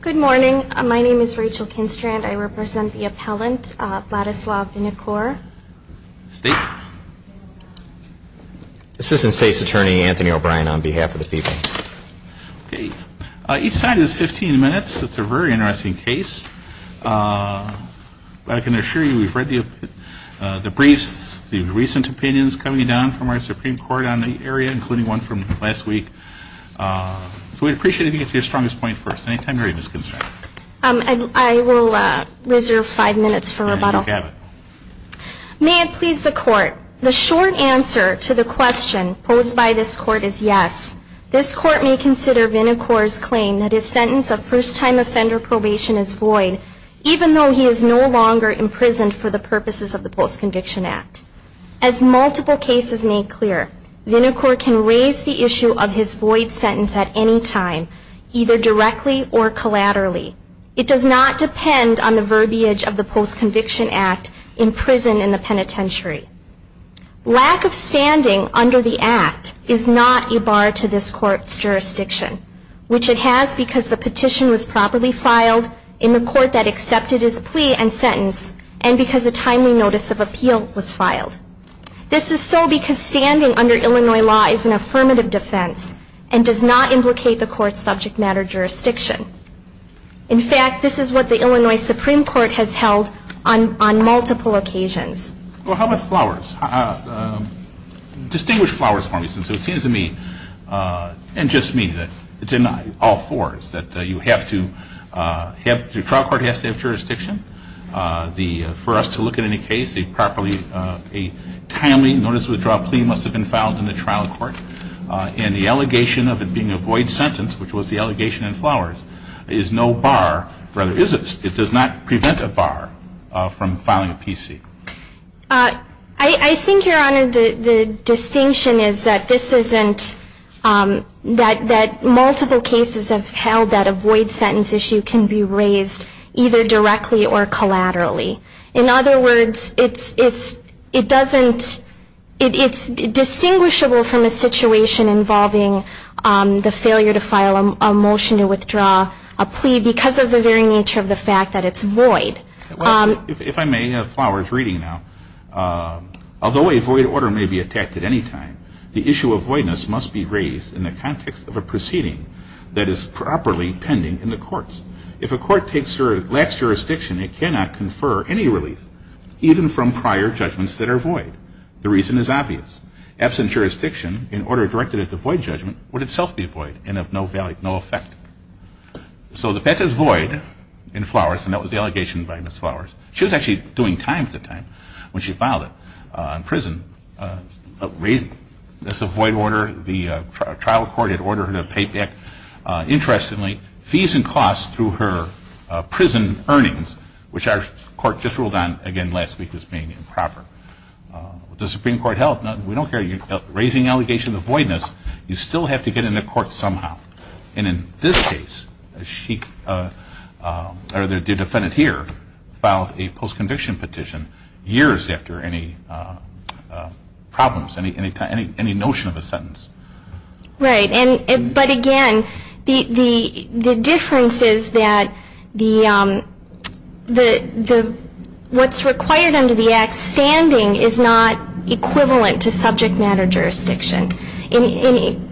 Good morning. My name is Rachel Kinstrand. I represent the appellant, Vladislav Vinokur. Assistant State's Attorney, Anthony O'Brien, on behalf of the people. Each side is 15 minutes. It's a very interesting case. I can assure you we've read the briefs, the recent opinions coming down from our Supreme Court on the area, including one from last week. So we'd appreciate it if you could get to your strongest point first. Any time you're ready, Ms. Kinstrand. Ms. Kinstrand I will reserve five minutes for rebuttal. Mr. O'Brien And you have it. Ms. Kinstrand May it please the Court, the short answer to the question posed by this Court is yes. This Court may consider Vinokur's claim that his sentence of first-time offender probation is void, even though he is no longer imprisoned for the purposes of the Post-Conviction Act. As multiple cases make clear, Vinokur can raise the issue of his void sentence at any time, either directly or collaterally. It does not depend on the verbiage of the Post-Conviction Act in prison in the penitentiary. Lack of standing under the Act is not a bar to this Court's jurisdiction, which it has because the petition was properly filed in the court that accepted his plea and sentence and because a timely notice of appeal was filed. This is so because standing under Illinois law is an affirmative defense and does not implicate the Court's subject matter jurisdiction. In fact, this is what the Illinois Supreme Court has held on multiple occasions. Mr. O'Brien Well, how about flowers? Distinguish flowers for me, since it seems to me, and just me, that it's in all fours, that you have to the trial court has to have jurisdiction. For us to look at any case, a timely notice of withdrawal plea must have been filed in the trial court. And the allegation of it being a void sentence, which was the allegation in flowers, is no bar, rather is it? It does not prevent a bar from filing a PC. Ms. O'Brien I think, Your Honor, the distinction is that multiple cases have held that a void sentence issue can be raised either directly or collaterally. In other words, it's distinguishable from a situation involving the failure to file a motion to withdraw a plea because of the very nature of the fact that it's void. Mr. O'Brien If I may, flowers reading now. Although a voidness must be raised in the context of a proceeding that is properly pending in the courts. If a court takes or lacks jurisdiction, it cannot confer any relief, even from prior judgments that are void. The reason is obvious. Absent jurisdiction, in order directed at the void judgment, would itself be void and of no effect. So the fact that it's void in flowers, and that was the allegation by Ms. Flowers, she was actually doing time at the time when she filed it in prison, raising this void order. The trial court had ordered her to pay back, interestingly, fees and costs through her prison earnings, which our court just ruled on again last week as being improper. The Supreme Court held, we don't care if you're raising an allegation of voidness, you still have to get into court somehow. And in this case, she, or the defendant here, filed a false conviction petition years after any problems, any notion of a sentence. Ms. O'Brien Right. But again, the difference is that what's required under the Act, standing is not equivalent to subject matter jurisdiction. In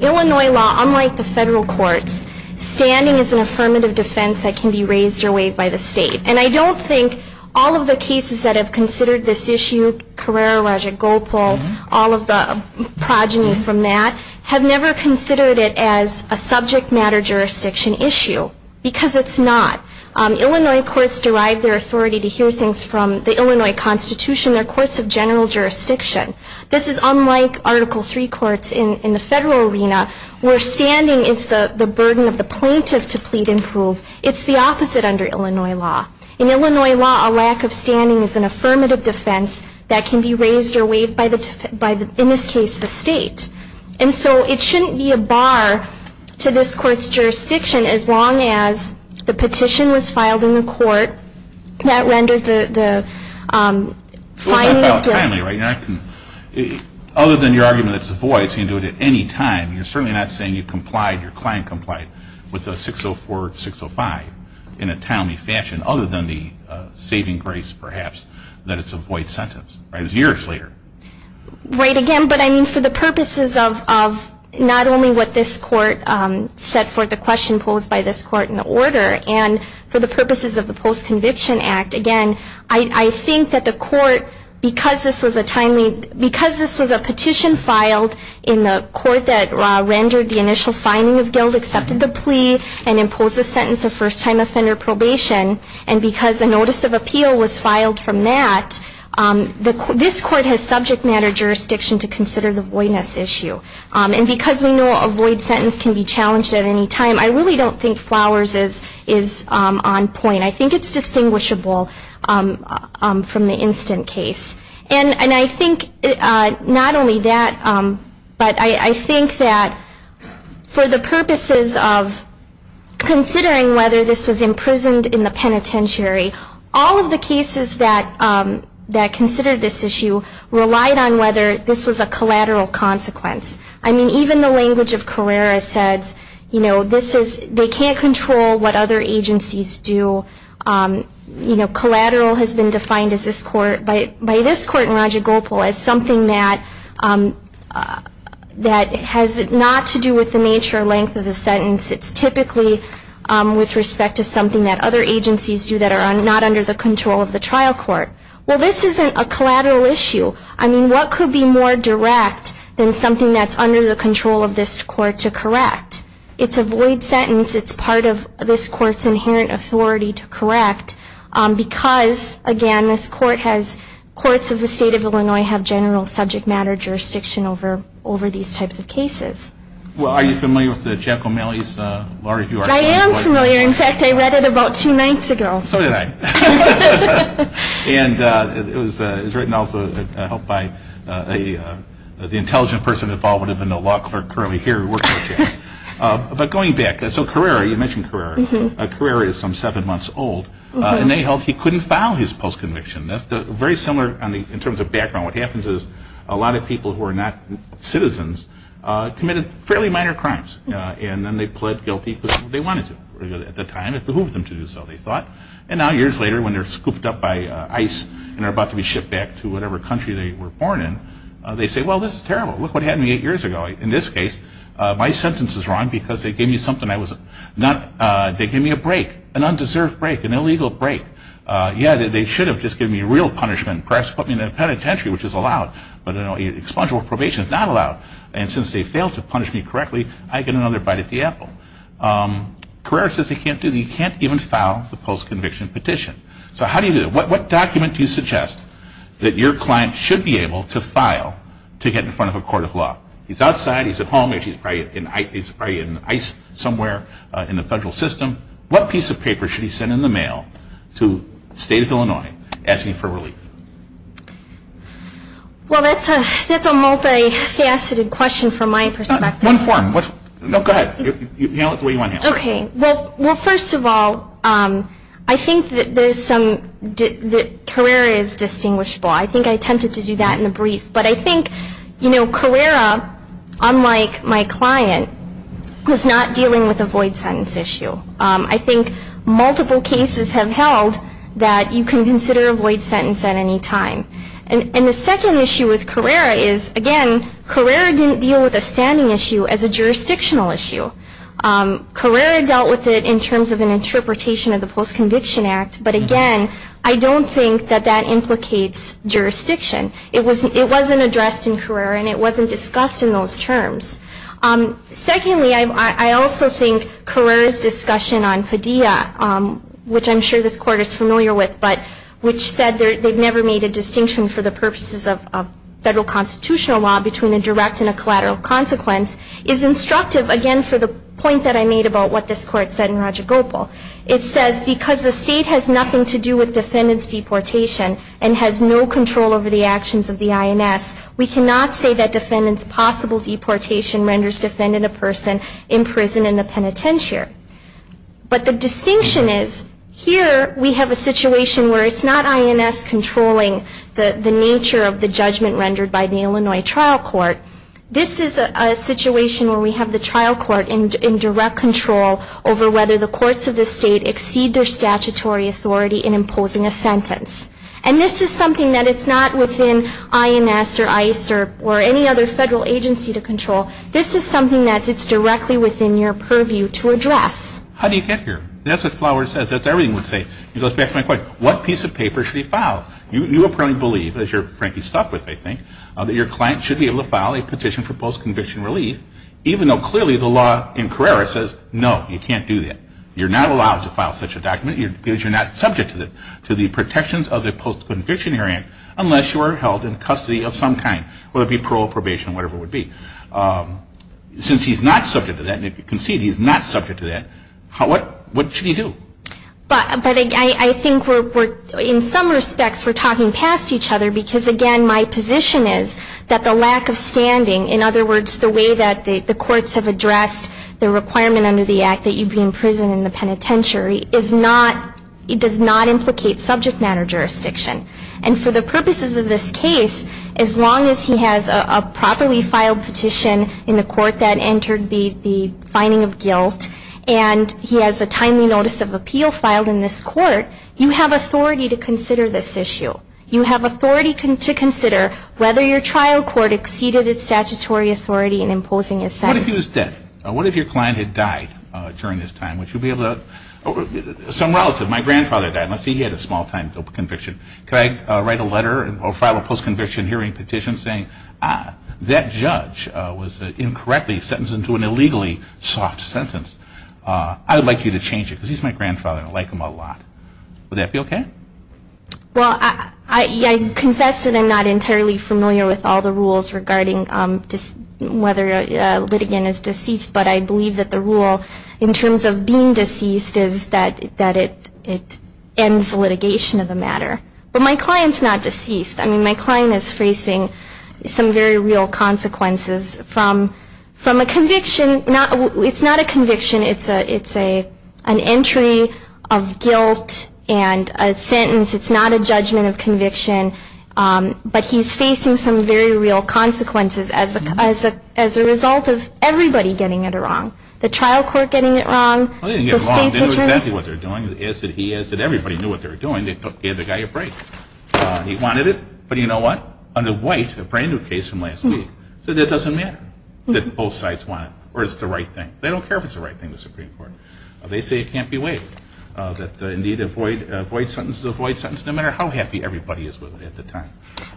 Illinois law, unlike the federal courts, standing is an affirmative defense that can be raised or waived by the state. And I don't think all of the cases that have considered this issue, Carrera, Roger, Gopal, all of the progeny from that, have never considered it as a subject matter jurisdiction issue, because it's not. Illinois courts derive their authority to hear things from the Illinois Constitution. They're courts of general jurisdiction. This is unlike Article III courts in the federal arena, where standing is the burden of the plaintiff to plead and prove. It's the opposite under Illinois law. In Illinois law, a lack of standing is an affirmative defense that can be raised or waived by the, in this case, the state. And so it shouldn't be a bar to this court's jurisdiction as long as the petition was filed in the court that rendered the finding of guilt. Mr. Davis Other than your argument that it's void, you can do it at any time. You're certainly not saying you complied, your client complied, with the 604-605 in a timely fashion, other than the saving grace, perhaps, that it's a void sentence, right? It's years later. Ms. O'Donnell Right. Again, but I mean for the purposes of not only what this court set forth, the question posed by this court in the order, and for the purposes of the Post Conviction Act, again, I think that the court, because this was a timely, because this was a petition filed in the court that rendered the initial finding of guilt, accepted the plea, and imposed a sentence of first-time offender probation, and because a notice of appeal was filed from that, this court has subject matter jurisdiction to consider the voidness issue. And because we know a void sentence can be challenged at any time, I really don't think Flowers is on point. I think it's distinguishable from the Instant Case. And I think not only that, but I think that for the purposes of considering whether this was imprisoned in the penitentiary, all of the cases that considered this issue relied on whether this was a collateral consequence. I mean, even the language of Carrera says, you know, this is, they can't control what other agencies do. You know, collateral has been defined by this court in Raja Gopal as something that has not to do with the nature or length of the sentence. It's typically with respect to something that other agencies do that are not under the control of the trial court. Well, this isn't a collateral issue. I mean, what could be more direct than something that's under the control of this court to correct? It's a void sentence. It's part of this court's inherent authority to correct, because, again, this court has, courts of the state of Illinois have general subject matter jurisdiction over these types of cases. Well, are you familiar with Jack O'Malley's Law Review Article? I am familiar. In fact, I read it about two nights ago. So did I. And it was written also, I hope, by the intelligent person involved in the law clerk currently here who works for Jack. But going back, so Carrera, you mentioned he was 10 months old, and they held he couldn't file his post-conviction. Very similar in terms of background. What happens is a lot of people who are not citizens committed fairly minor crimes, and then they pled guilty because they wanted to at the time. It behooved them to do so, they thought. And now, years later, when they're scooped up by ice and are about to be shipped back to whatever country they were born in, they say, well, this is terrible. Look what happened to me eight years ago. In this case, my sentence is wrong because they gave me a break, an undeserved break, an illegal break. Yeah, they should have just given me a real punishment and perhaps put me in a penitentiary, which is allowed, but expungable probation is not allowed. And since they failed to punish me correctly, I get another bite at the apple. Carrera says he can't do that. He can't even file the post-conviction petition. So how do you do it? What document do you suggest that your client should be able to file to get in front of a court of law? He's outside, he's at home, he's probably in ice somewhere in the federal system. What piece of paper should he send in the mail to the state of Illinois asking for relief? Well, that's a multi-faceted question from my perspective. One form. No, go ahead. Handle it the way you want to handle it. Okay. Well, first of all, I think that Carrera is distinguishable. I think I attempted to do that in the brief, but I think, you know, Carrera, unlike my client, is not dealing with a void sentence issue. I think multiple cases have held that you can consider a void sentence at any time. And the second issue with Carrera is, again, Carrera didn't deal with a standing issue as a jurisdictional issue. Carrera dealt with it in terms of an interpretation of the Post-Conviction Act, but again, I don't think that that implicates jurisdiction. It wasn't addressed in Carrera, and it wasn't discussed in those terms. Secondly, I also think Carrera's discussion on Padilla, which I'm sure this Court is familiar with, but which said they've never made a distinction for the purposes of federal constitutional law between a direct and a collateral consequence, is instructive, again, for the point that I made about what this Court said in Roger Gopal. It says, because the state has nothing to do with defendant's deportation and has no control over the actions of the INS, we cannot say that defendant's possible deportation renders defendant a person in prison in the penitentiary. But the distinction is, here we have a situation where it's not INS controlling the nature of the judgment rendered by the Illinois Trial Court. This is a situation where we have the trial court in direct control over whether the courts of the state exceed their statutory authority in imposing a sentence. And this is something that it's not within INS or ICERP or any other federal agency to control. This is something that it's directly within your purview to address. How do you get here? That's what Flower says. That's everything we say. He goes back to my question. What piece of paper should he file? You apparently believe, as you're frankly stuck with, I think, that your client should be able to file a petition for post-conviction relief, even though clearly the law in Carrera says, no, you can't do that. You're not allowed to file such a document because you're not subject to the protections of the post-conviction area unless you are held in custody of some kind, whether it be parole, probation, whatever it would be. Since he's not subject to that, and if you can see, he's not subject to that, what should he do? But I think we're, in some respects, we're talking past each other because, again, my position is that the lack of standing, in other words, the way that the courts have handled this case in the past century, is not, it does not implicate subject matter jurisdiction. And for the purposes of this case, as long as he has a properly filed petition in the court that entered the finding of guilt, and he has a timely notice of appeal filed in this court, you have authority to consider this issue. You have authority to consider whether your trial court exceeded its statutory authority in imposing a sentence. What if he was dead? What if your client had died during this time? Would you be able to, some relative, my grandfather died, unless he had a small-time conviction, could I write a letter or file a post-conviction hearing petition saying, ah, that judge was incorrectly sentenced to an illegally sought sentence. I would like you to change it because he's my grandfather and I like him a lot. Would that be okay? Well, I confess that I'm not entirely familiar with all the rules regarding whether litigation is deceased, but I believe that the rule in terms of being deceased is that it ends litigation of the matter. But my client's not deceased. I mean, my client is facing some very real consequences from a conviction. It's not a conviction. It's an entry of guilt and a sentence. It's not a judgment of conviction. But he's facing some very real consequences as a result of everybody getting it wrong. The trial court getting it wrong, the state's attorney. Well, they didn't get it wrong. They knew exactly what they were doing. They asked that he asked that everybody knew what they were doing. They gave the guy a break. He wanted it, but you know what? Under White, a brand new case from last week, said that doesn't matter, that both sides want it, or it's the right thing. They don't care if it's the right thing, the Supreme Court. They say it can't be waived, that indeed a void sentence is a void sentence, no matter how happy everybody is with it at the time.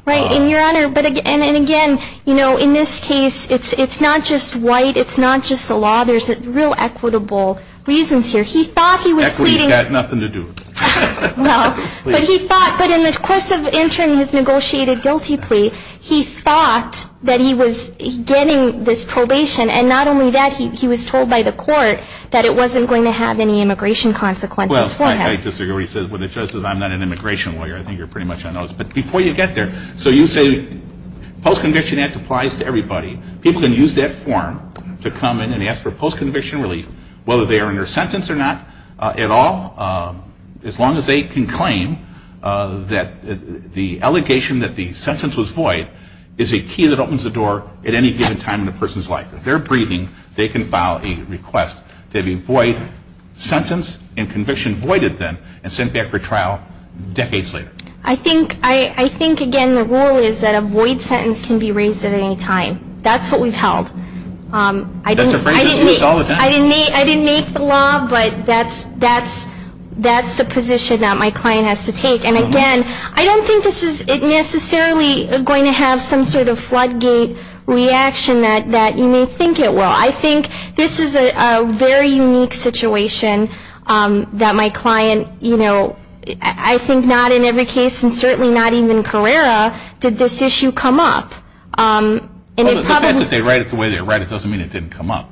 Right, and Your Honor, and again, you know, in this case, it's not just White, it's not just the law. There's real equitable reasons here. He thought he was pleading. Equity's got nothing to do with it. Well, but he thought, but in the course of entering his negotiated guilty plea, he thought that he was getting this probation, and not only that, he was told by the court that it wasn't going to have any immigration consequences for him. Well, I disagree with what the judge says. I'm not an immigration lawyer. I think you're right there. So you say the Post-Conviction Act applies to everybody. People can use that form to come in and ask for post-conviction relief, whether they are under sentence or not at all, as long as they can claim that the allegation that the sentence was void is a key that opens the door at any given time in a person's life. If they're breathing, they can file a request to have a void sentence and conviction voided then and sent back for trial decades later. I think, again, the rule is that a void sentence can be raised at any time. That's what we've held. That's a phrase that's used all the time. I didn't make the law, but that's the position that my client has to take. And again, I don't think this is necessarily going to have some sort of floodgate reaction that you may think it will. I think this is a very unique situation that my client, you know, I think not in every case, and certainly not even Carrera, did this issue come up. The fact that they write it the way they write it doesn't mean it didn't come up.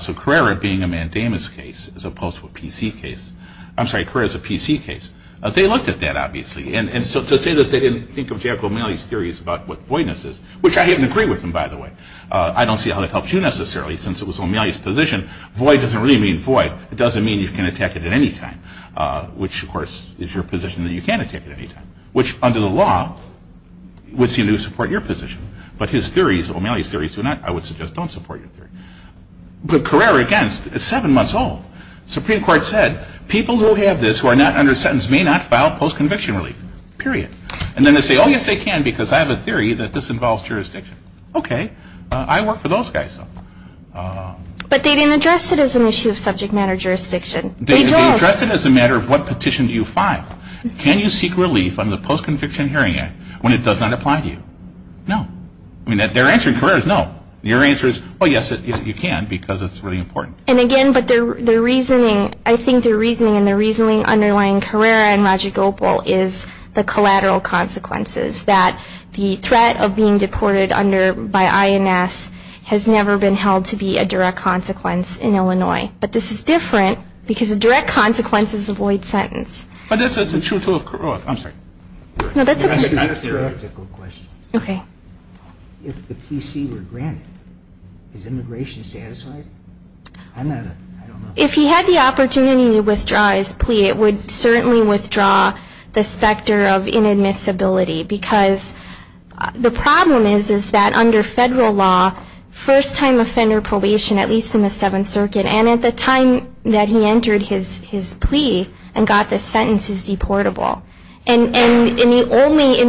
So Carrera being a mandamus case as opposed to a PC case, I'm sorry, Carrera is a PC case, they looked at that, obviously. And so to say that they didn't think of Jack O'Malley's theories about what voidness is, which I didn't agree with him, by the way. I don't see how that helps you, necessarily, since it was O'Malley's position. Void doesn't really mean void. It doesn't mean you can attack it at any time, which of course is your position that you can attack it at any time, which under the law would seem to support your position. But his theories, O'Malley's theories, do not, I would suggest, don't support your theory. But Carrera, again, is seven months old. The Supreme Court said, people who have this who are not under sentence may not file post-conviction relief, period. And then they say, oh yes they can because I have a theory that this involves jurisdiction. Okay, I work for those guys, so. But they didn't address it as an issue of subject matter jurisdiction. They don't. They addressed it as a matter of what petition do you file. Can you seek relief under the Post-Conviction Hearing Act when it does not apply to you? No. I mean, their answer to Carrera is no. Your answer is, oh yes, you can because it's really important. And again, but their reasoning, I think their reasoning and the reasoning underlying Carrera and Roger Gopal is the collateral consequences, that the threat of being deported by INS has never been held to be a direct consequence in Illinois. But this is different because a direct consequence is a void sentence. But that's a theoretical question. If the PC were granted, is immigration satisfied? If he had the opportunity to withdraw his plea, it would certainly withdraw the specter of inadmissibility because the problem is, is that under federal law, first-time offender probation, at least in the Seventh Circuit, and at the time that he entered his plea and got the sentence, is deportable. And in the only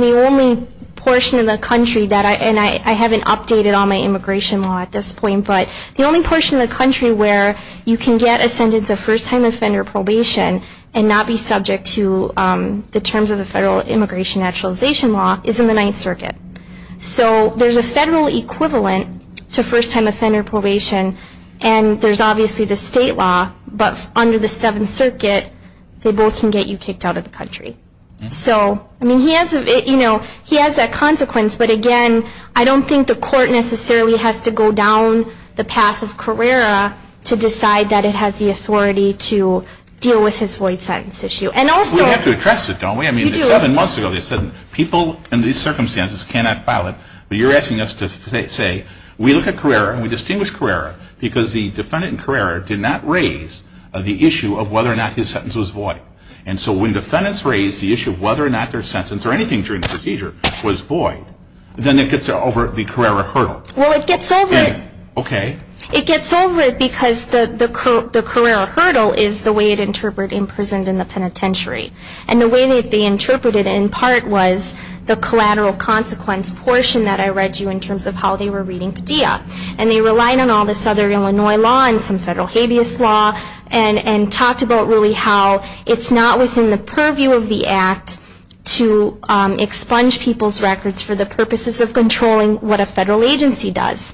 portion of the country that I, and I haven't updated all my immigration law at this point, but the only portion of the country where you can get a sentence of first-time offender probation and not be subject to the federal immigration naturalization law is in the Ninth Circuit. So there's a federal equivalent to first-time offender probation, and there's obviously the state law, but under the Seventh Circuit, they both can get you kicked out of the country. So, I mean, he has, you know, he has that consequence, but again, I don't think the court necessarily has to go down the path of Carrera to decide that it has the authority to deal with his void sentence issue. We have to address it, don't we? I mean, seven months ago they said people in these circumstances cannot file it, but you're asking us to say, we look at Carrera, and we distinguish Carrera because the defendant in Carrera did not raise the issue of whether or not his sentence was void. And so when defendants raise the issue of whether or not their sentence, or anything during the procedure, was void, then it gets over the Carrera hurdle. Well, it gets over it because the Carrera hurdle is the way it interpreted imprisoned in the penitentiary. And the way that they interpreted it, in part, was the collateral consequence portion that I read you in terms of how they were reading Padilla. And they relied on all this other Illinois law and some federal habeas law and talked about really how it's not within the purview of the Act to expunge people's records for the purposes of controlling what a federal agency does.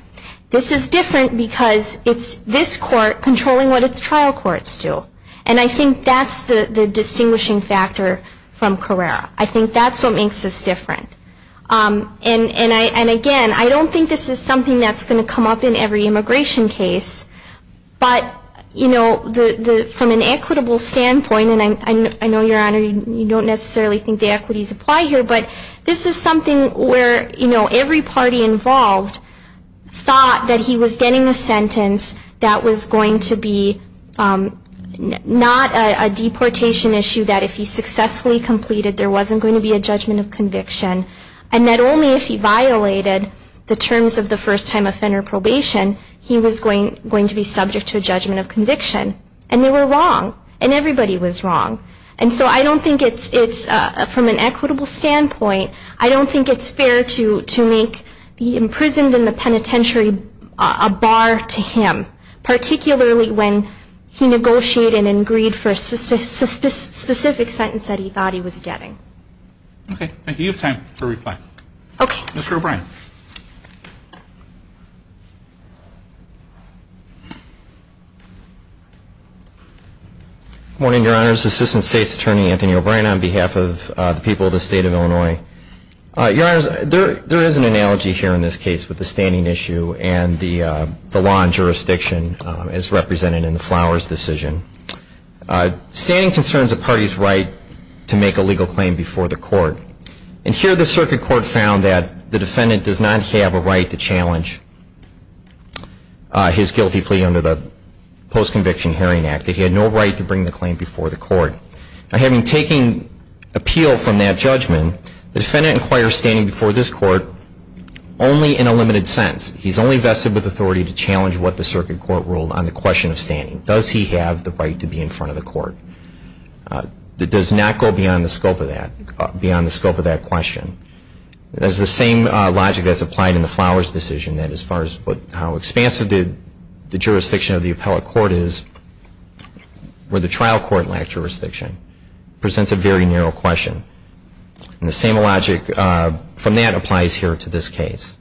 This is different because it's this court controlling what its trial courts do. And I think that's the distinguishing factor from Carrera. I think that's what makes this different. And again, I don't think this is something that's going to come up in every immigration case. But from an equitable standpoint, and I know, Your Honor, you don't necessarily think the equities apply here, but this is something where every party involved thought that he was getting a sentence that was going to be not a deportation issue, that if he successfully completed, there wasn't going to be a judgment of conviction. And that only if he violated the terms of the first time offender probation, he was going to be subject to a judgment of conviction. And they were wrong. And everybody was wrong. And so I don't think it's, from an equitable standpoint, I don't think it's fair to make the imprisoned in the penitentiary a bar to him, particularly when he negotiated and agreed for a specific sentence that he thought he was getting. Okay. Thank you. You have time to reply. Okay. Mr. O'Brien. Morning, Your Honors. Assistant State's Attorney, Anthony O'Brien, on behalf of the people of the state of Illinois. Your Honors, there is an analogy here in this case with the standing issue and the law and jurisdiction as represented in the Flowers decision. Standing concerns a party's right to make a legal claim before the court. And here, the circuit court found that the defendant does not have a right to challenge his guilty plea under the Post-Conviction Hearing Act, that he had no right to bring the claim before the court. Now, having taken appeal from that judgment, the defendant inquires standing before this court only in a limited sense. He's only vested with authority to challenge what the circuit court ruled on the question of standing. Does he have the right to be in front of the court? That does not go beyond the scope of that, beyond the scope of that question. That's the same logic that's applied in the Flowers decision, that as far as how expansive the jurisdiction of the appellate court is, where the trial court lacked jurisdiction, presents a very narrow question. And the same logic from that applies here to this case.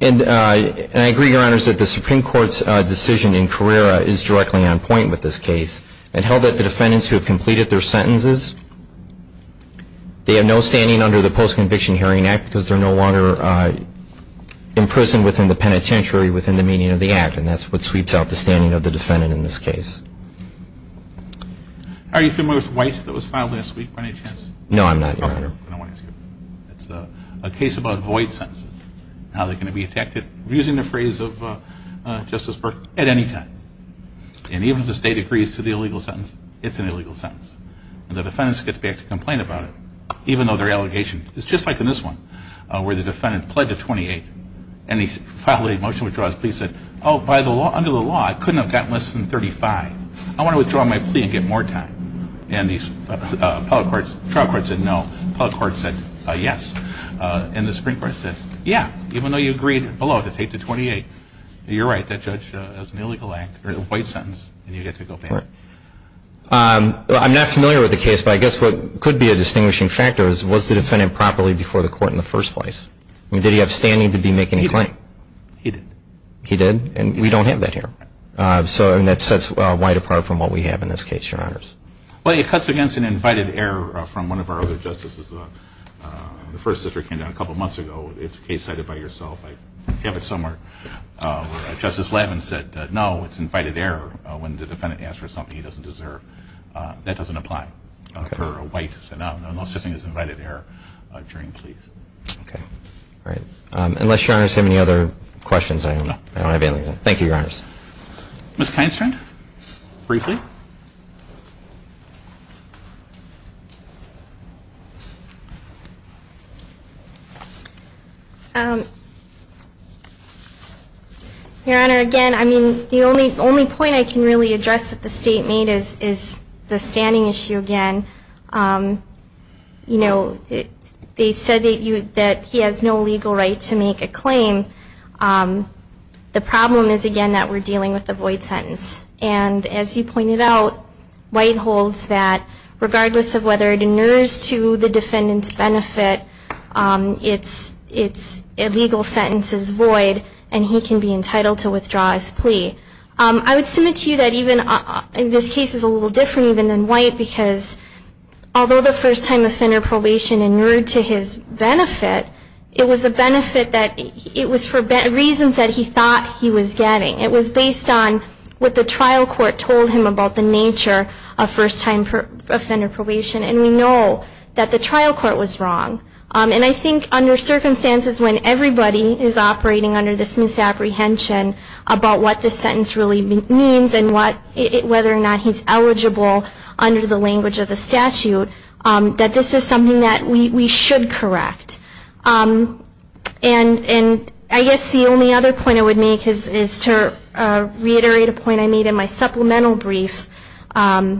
And I agree, Your Honors, that the Supreme Court's decision in Carrera is directly on point with this case. It held that the defendants who have completed their sentences, they have no standing under the Post-Conviction Hearing Act because they're no longer imprisoned within the penitentiary within the meaning of the act. And that's what sweeps out the standing of the defendant in this case. Are you familiar with White that was filed last week by any chance? No, I'm not, Your Honor. I don't want to ask you about that. It's a case about void sentences, how they're going to be detected. I'm using the phrase of Justice Burke, at any time. And even if the state agrees to the illegal sentence, it's an illegal sentence. And the defendants get back to complain about it, even though their allegation is just like in this one, where the defendant pled to 28. And he filed a motion to withdraw his plea and said, oh, by the law, under the law, I couldn't have gotten less than 35. I want to withdraw my plea and get more time. And the trial court said, no. The appellate court said, yes. And the Supreme Court said, yeah, even though you agreed below to take the 28. You're right, that judge has an illegal act or a void sentence, and you get to go back. I'm not familiar with the case, but I guess what could be a distinguishing factor is, was the defendant properly before the court in the first place? Did he have standing to be making a claim? He did. He did? And we don't have that here. And that sets White apart from what we have in this case, Your Honors. Well, it cuts against an invited error from one of our other justices. The first sister came down a couple months ago. It's a case cited by yourself. I have it somewhere, where it's invited error when the defendant asks for something he doesn't deserve. That doesn't apply for a White. So no, I'm not saying it's invited error during pleas. Okay. Great. Unless Your Honors have any other questions, I don't have anything. Thank you, Your Honors. Ms. Kindstrand, briefly. Your Honor, again, I mean, the only point I can really address that the State made is the standing issue again. You know, they said that he has no legal right to make a claim. The problem is, again, that we're dealing with a void sentence. And as you pointed out, White holds that regardless of whether it inures to the defendant's benefit, its legal sentence is void, and he can be entitled to withdraw his plea. I would submit to you that even this case is a little different even than White, because although the first time the offender probation inured to his benefit, it was a benefit that was for reasons that he thought he was getting. It was based on what the trial court told him about the nature of first time offender probation. And we know that the trial court was wrong. And I think under circumstances when everybody is operating under this misapprehension about what this sentence really means and whether or not he's eligible under the language of the statute, that this is something that we should correct. And I guess the only other point I would make is to reiterate a point I made in my supplemental brief in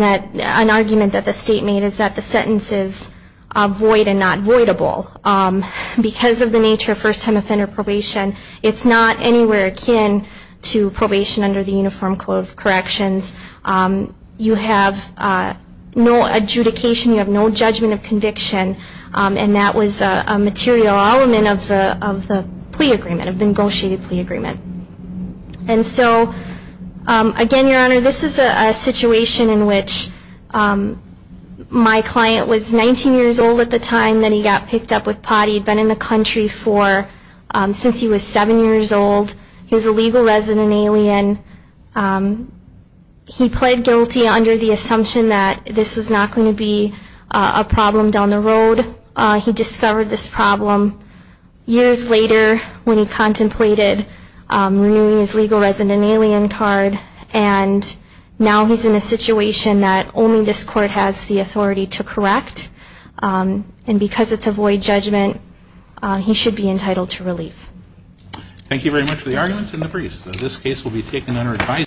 that an argument that the State made is that the sentence is void and not voidable. Because of the nature of first time offender probation, it's not anywhere akin to probation under the Uniform Code of Corrections. You have no adjudication. You have no judgment of conviction. And that was a material element of the plea agreement, of the negotiated plea agreement. And so again, Your Honor, this is a situation in which my client was 19 years old at the time that he got picked up with potty. He had been in the country since he was 7 years old. He was a legal resident alien. He pled guilty under the assumption that this was not going to be a problem down the road. He discovered this problem years later when he contemplated renewing his legal resident alien card. And now he's in a situation that only this court has the authority to correct. And because it's a void judgment, he should be entitled to relief. Thank you very much for the arguments and the briefs. This case will be taken under advisory.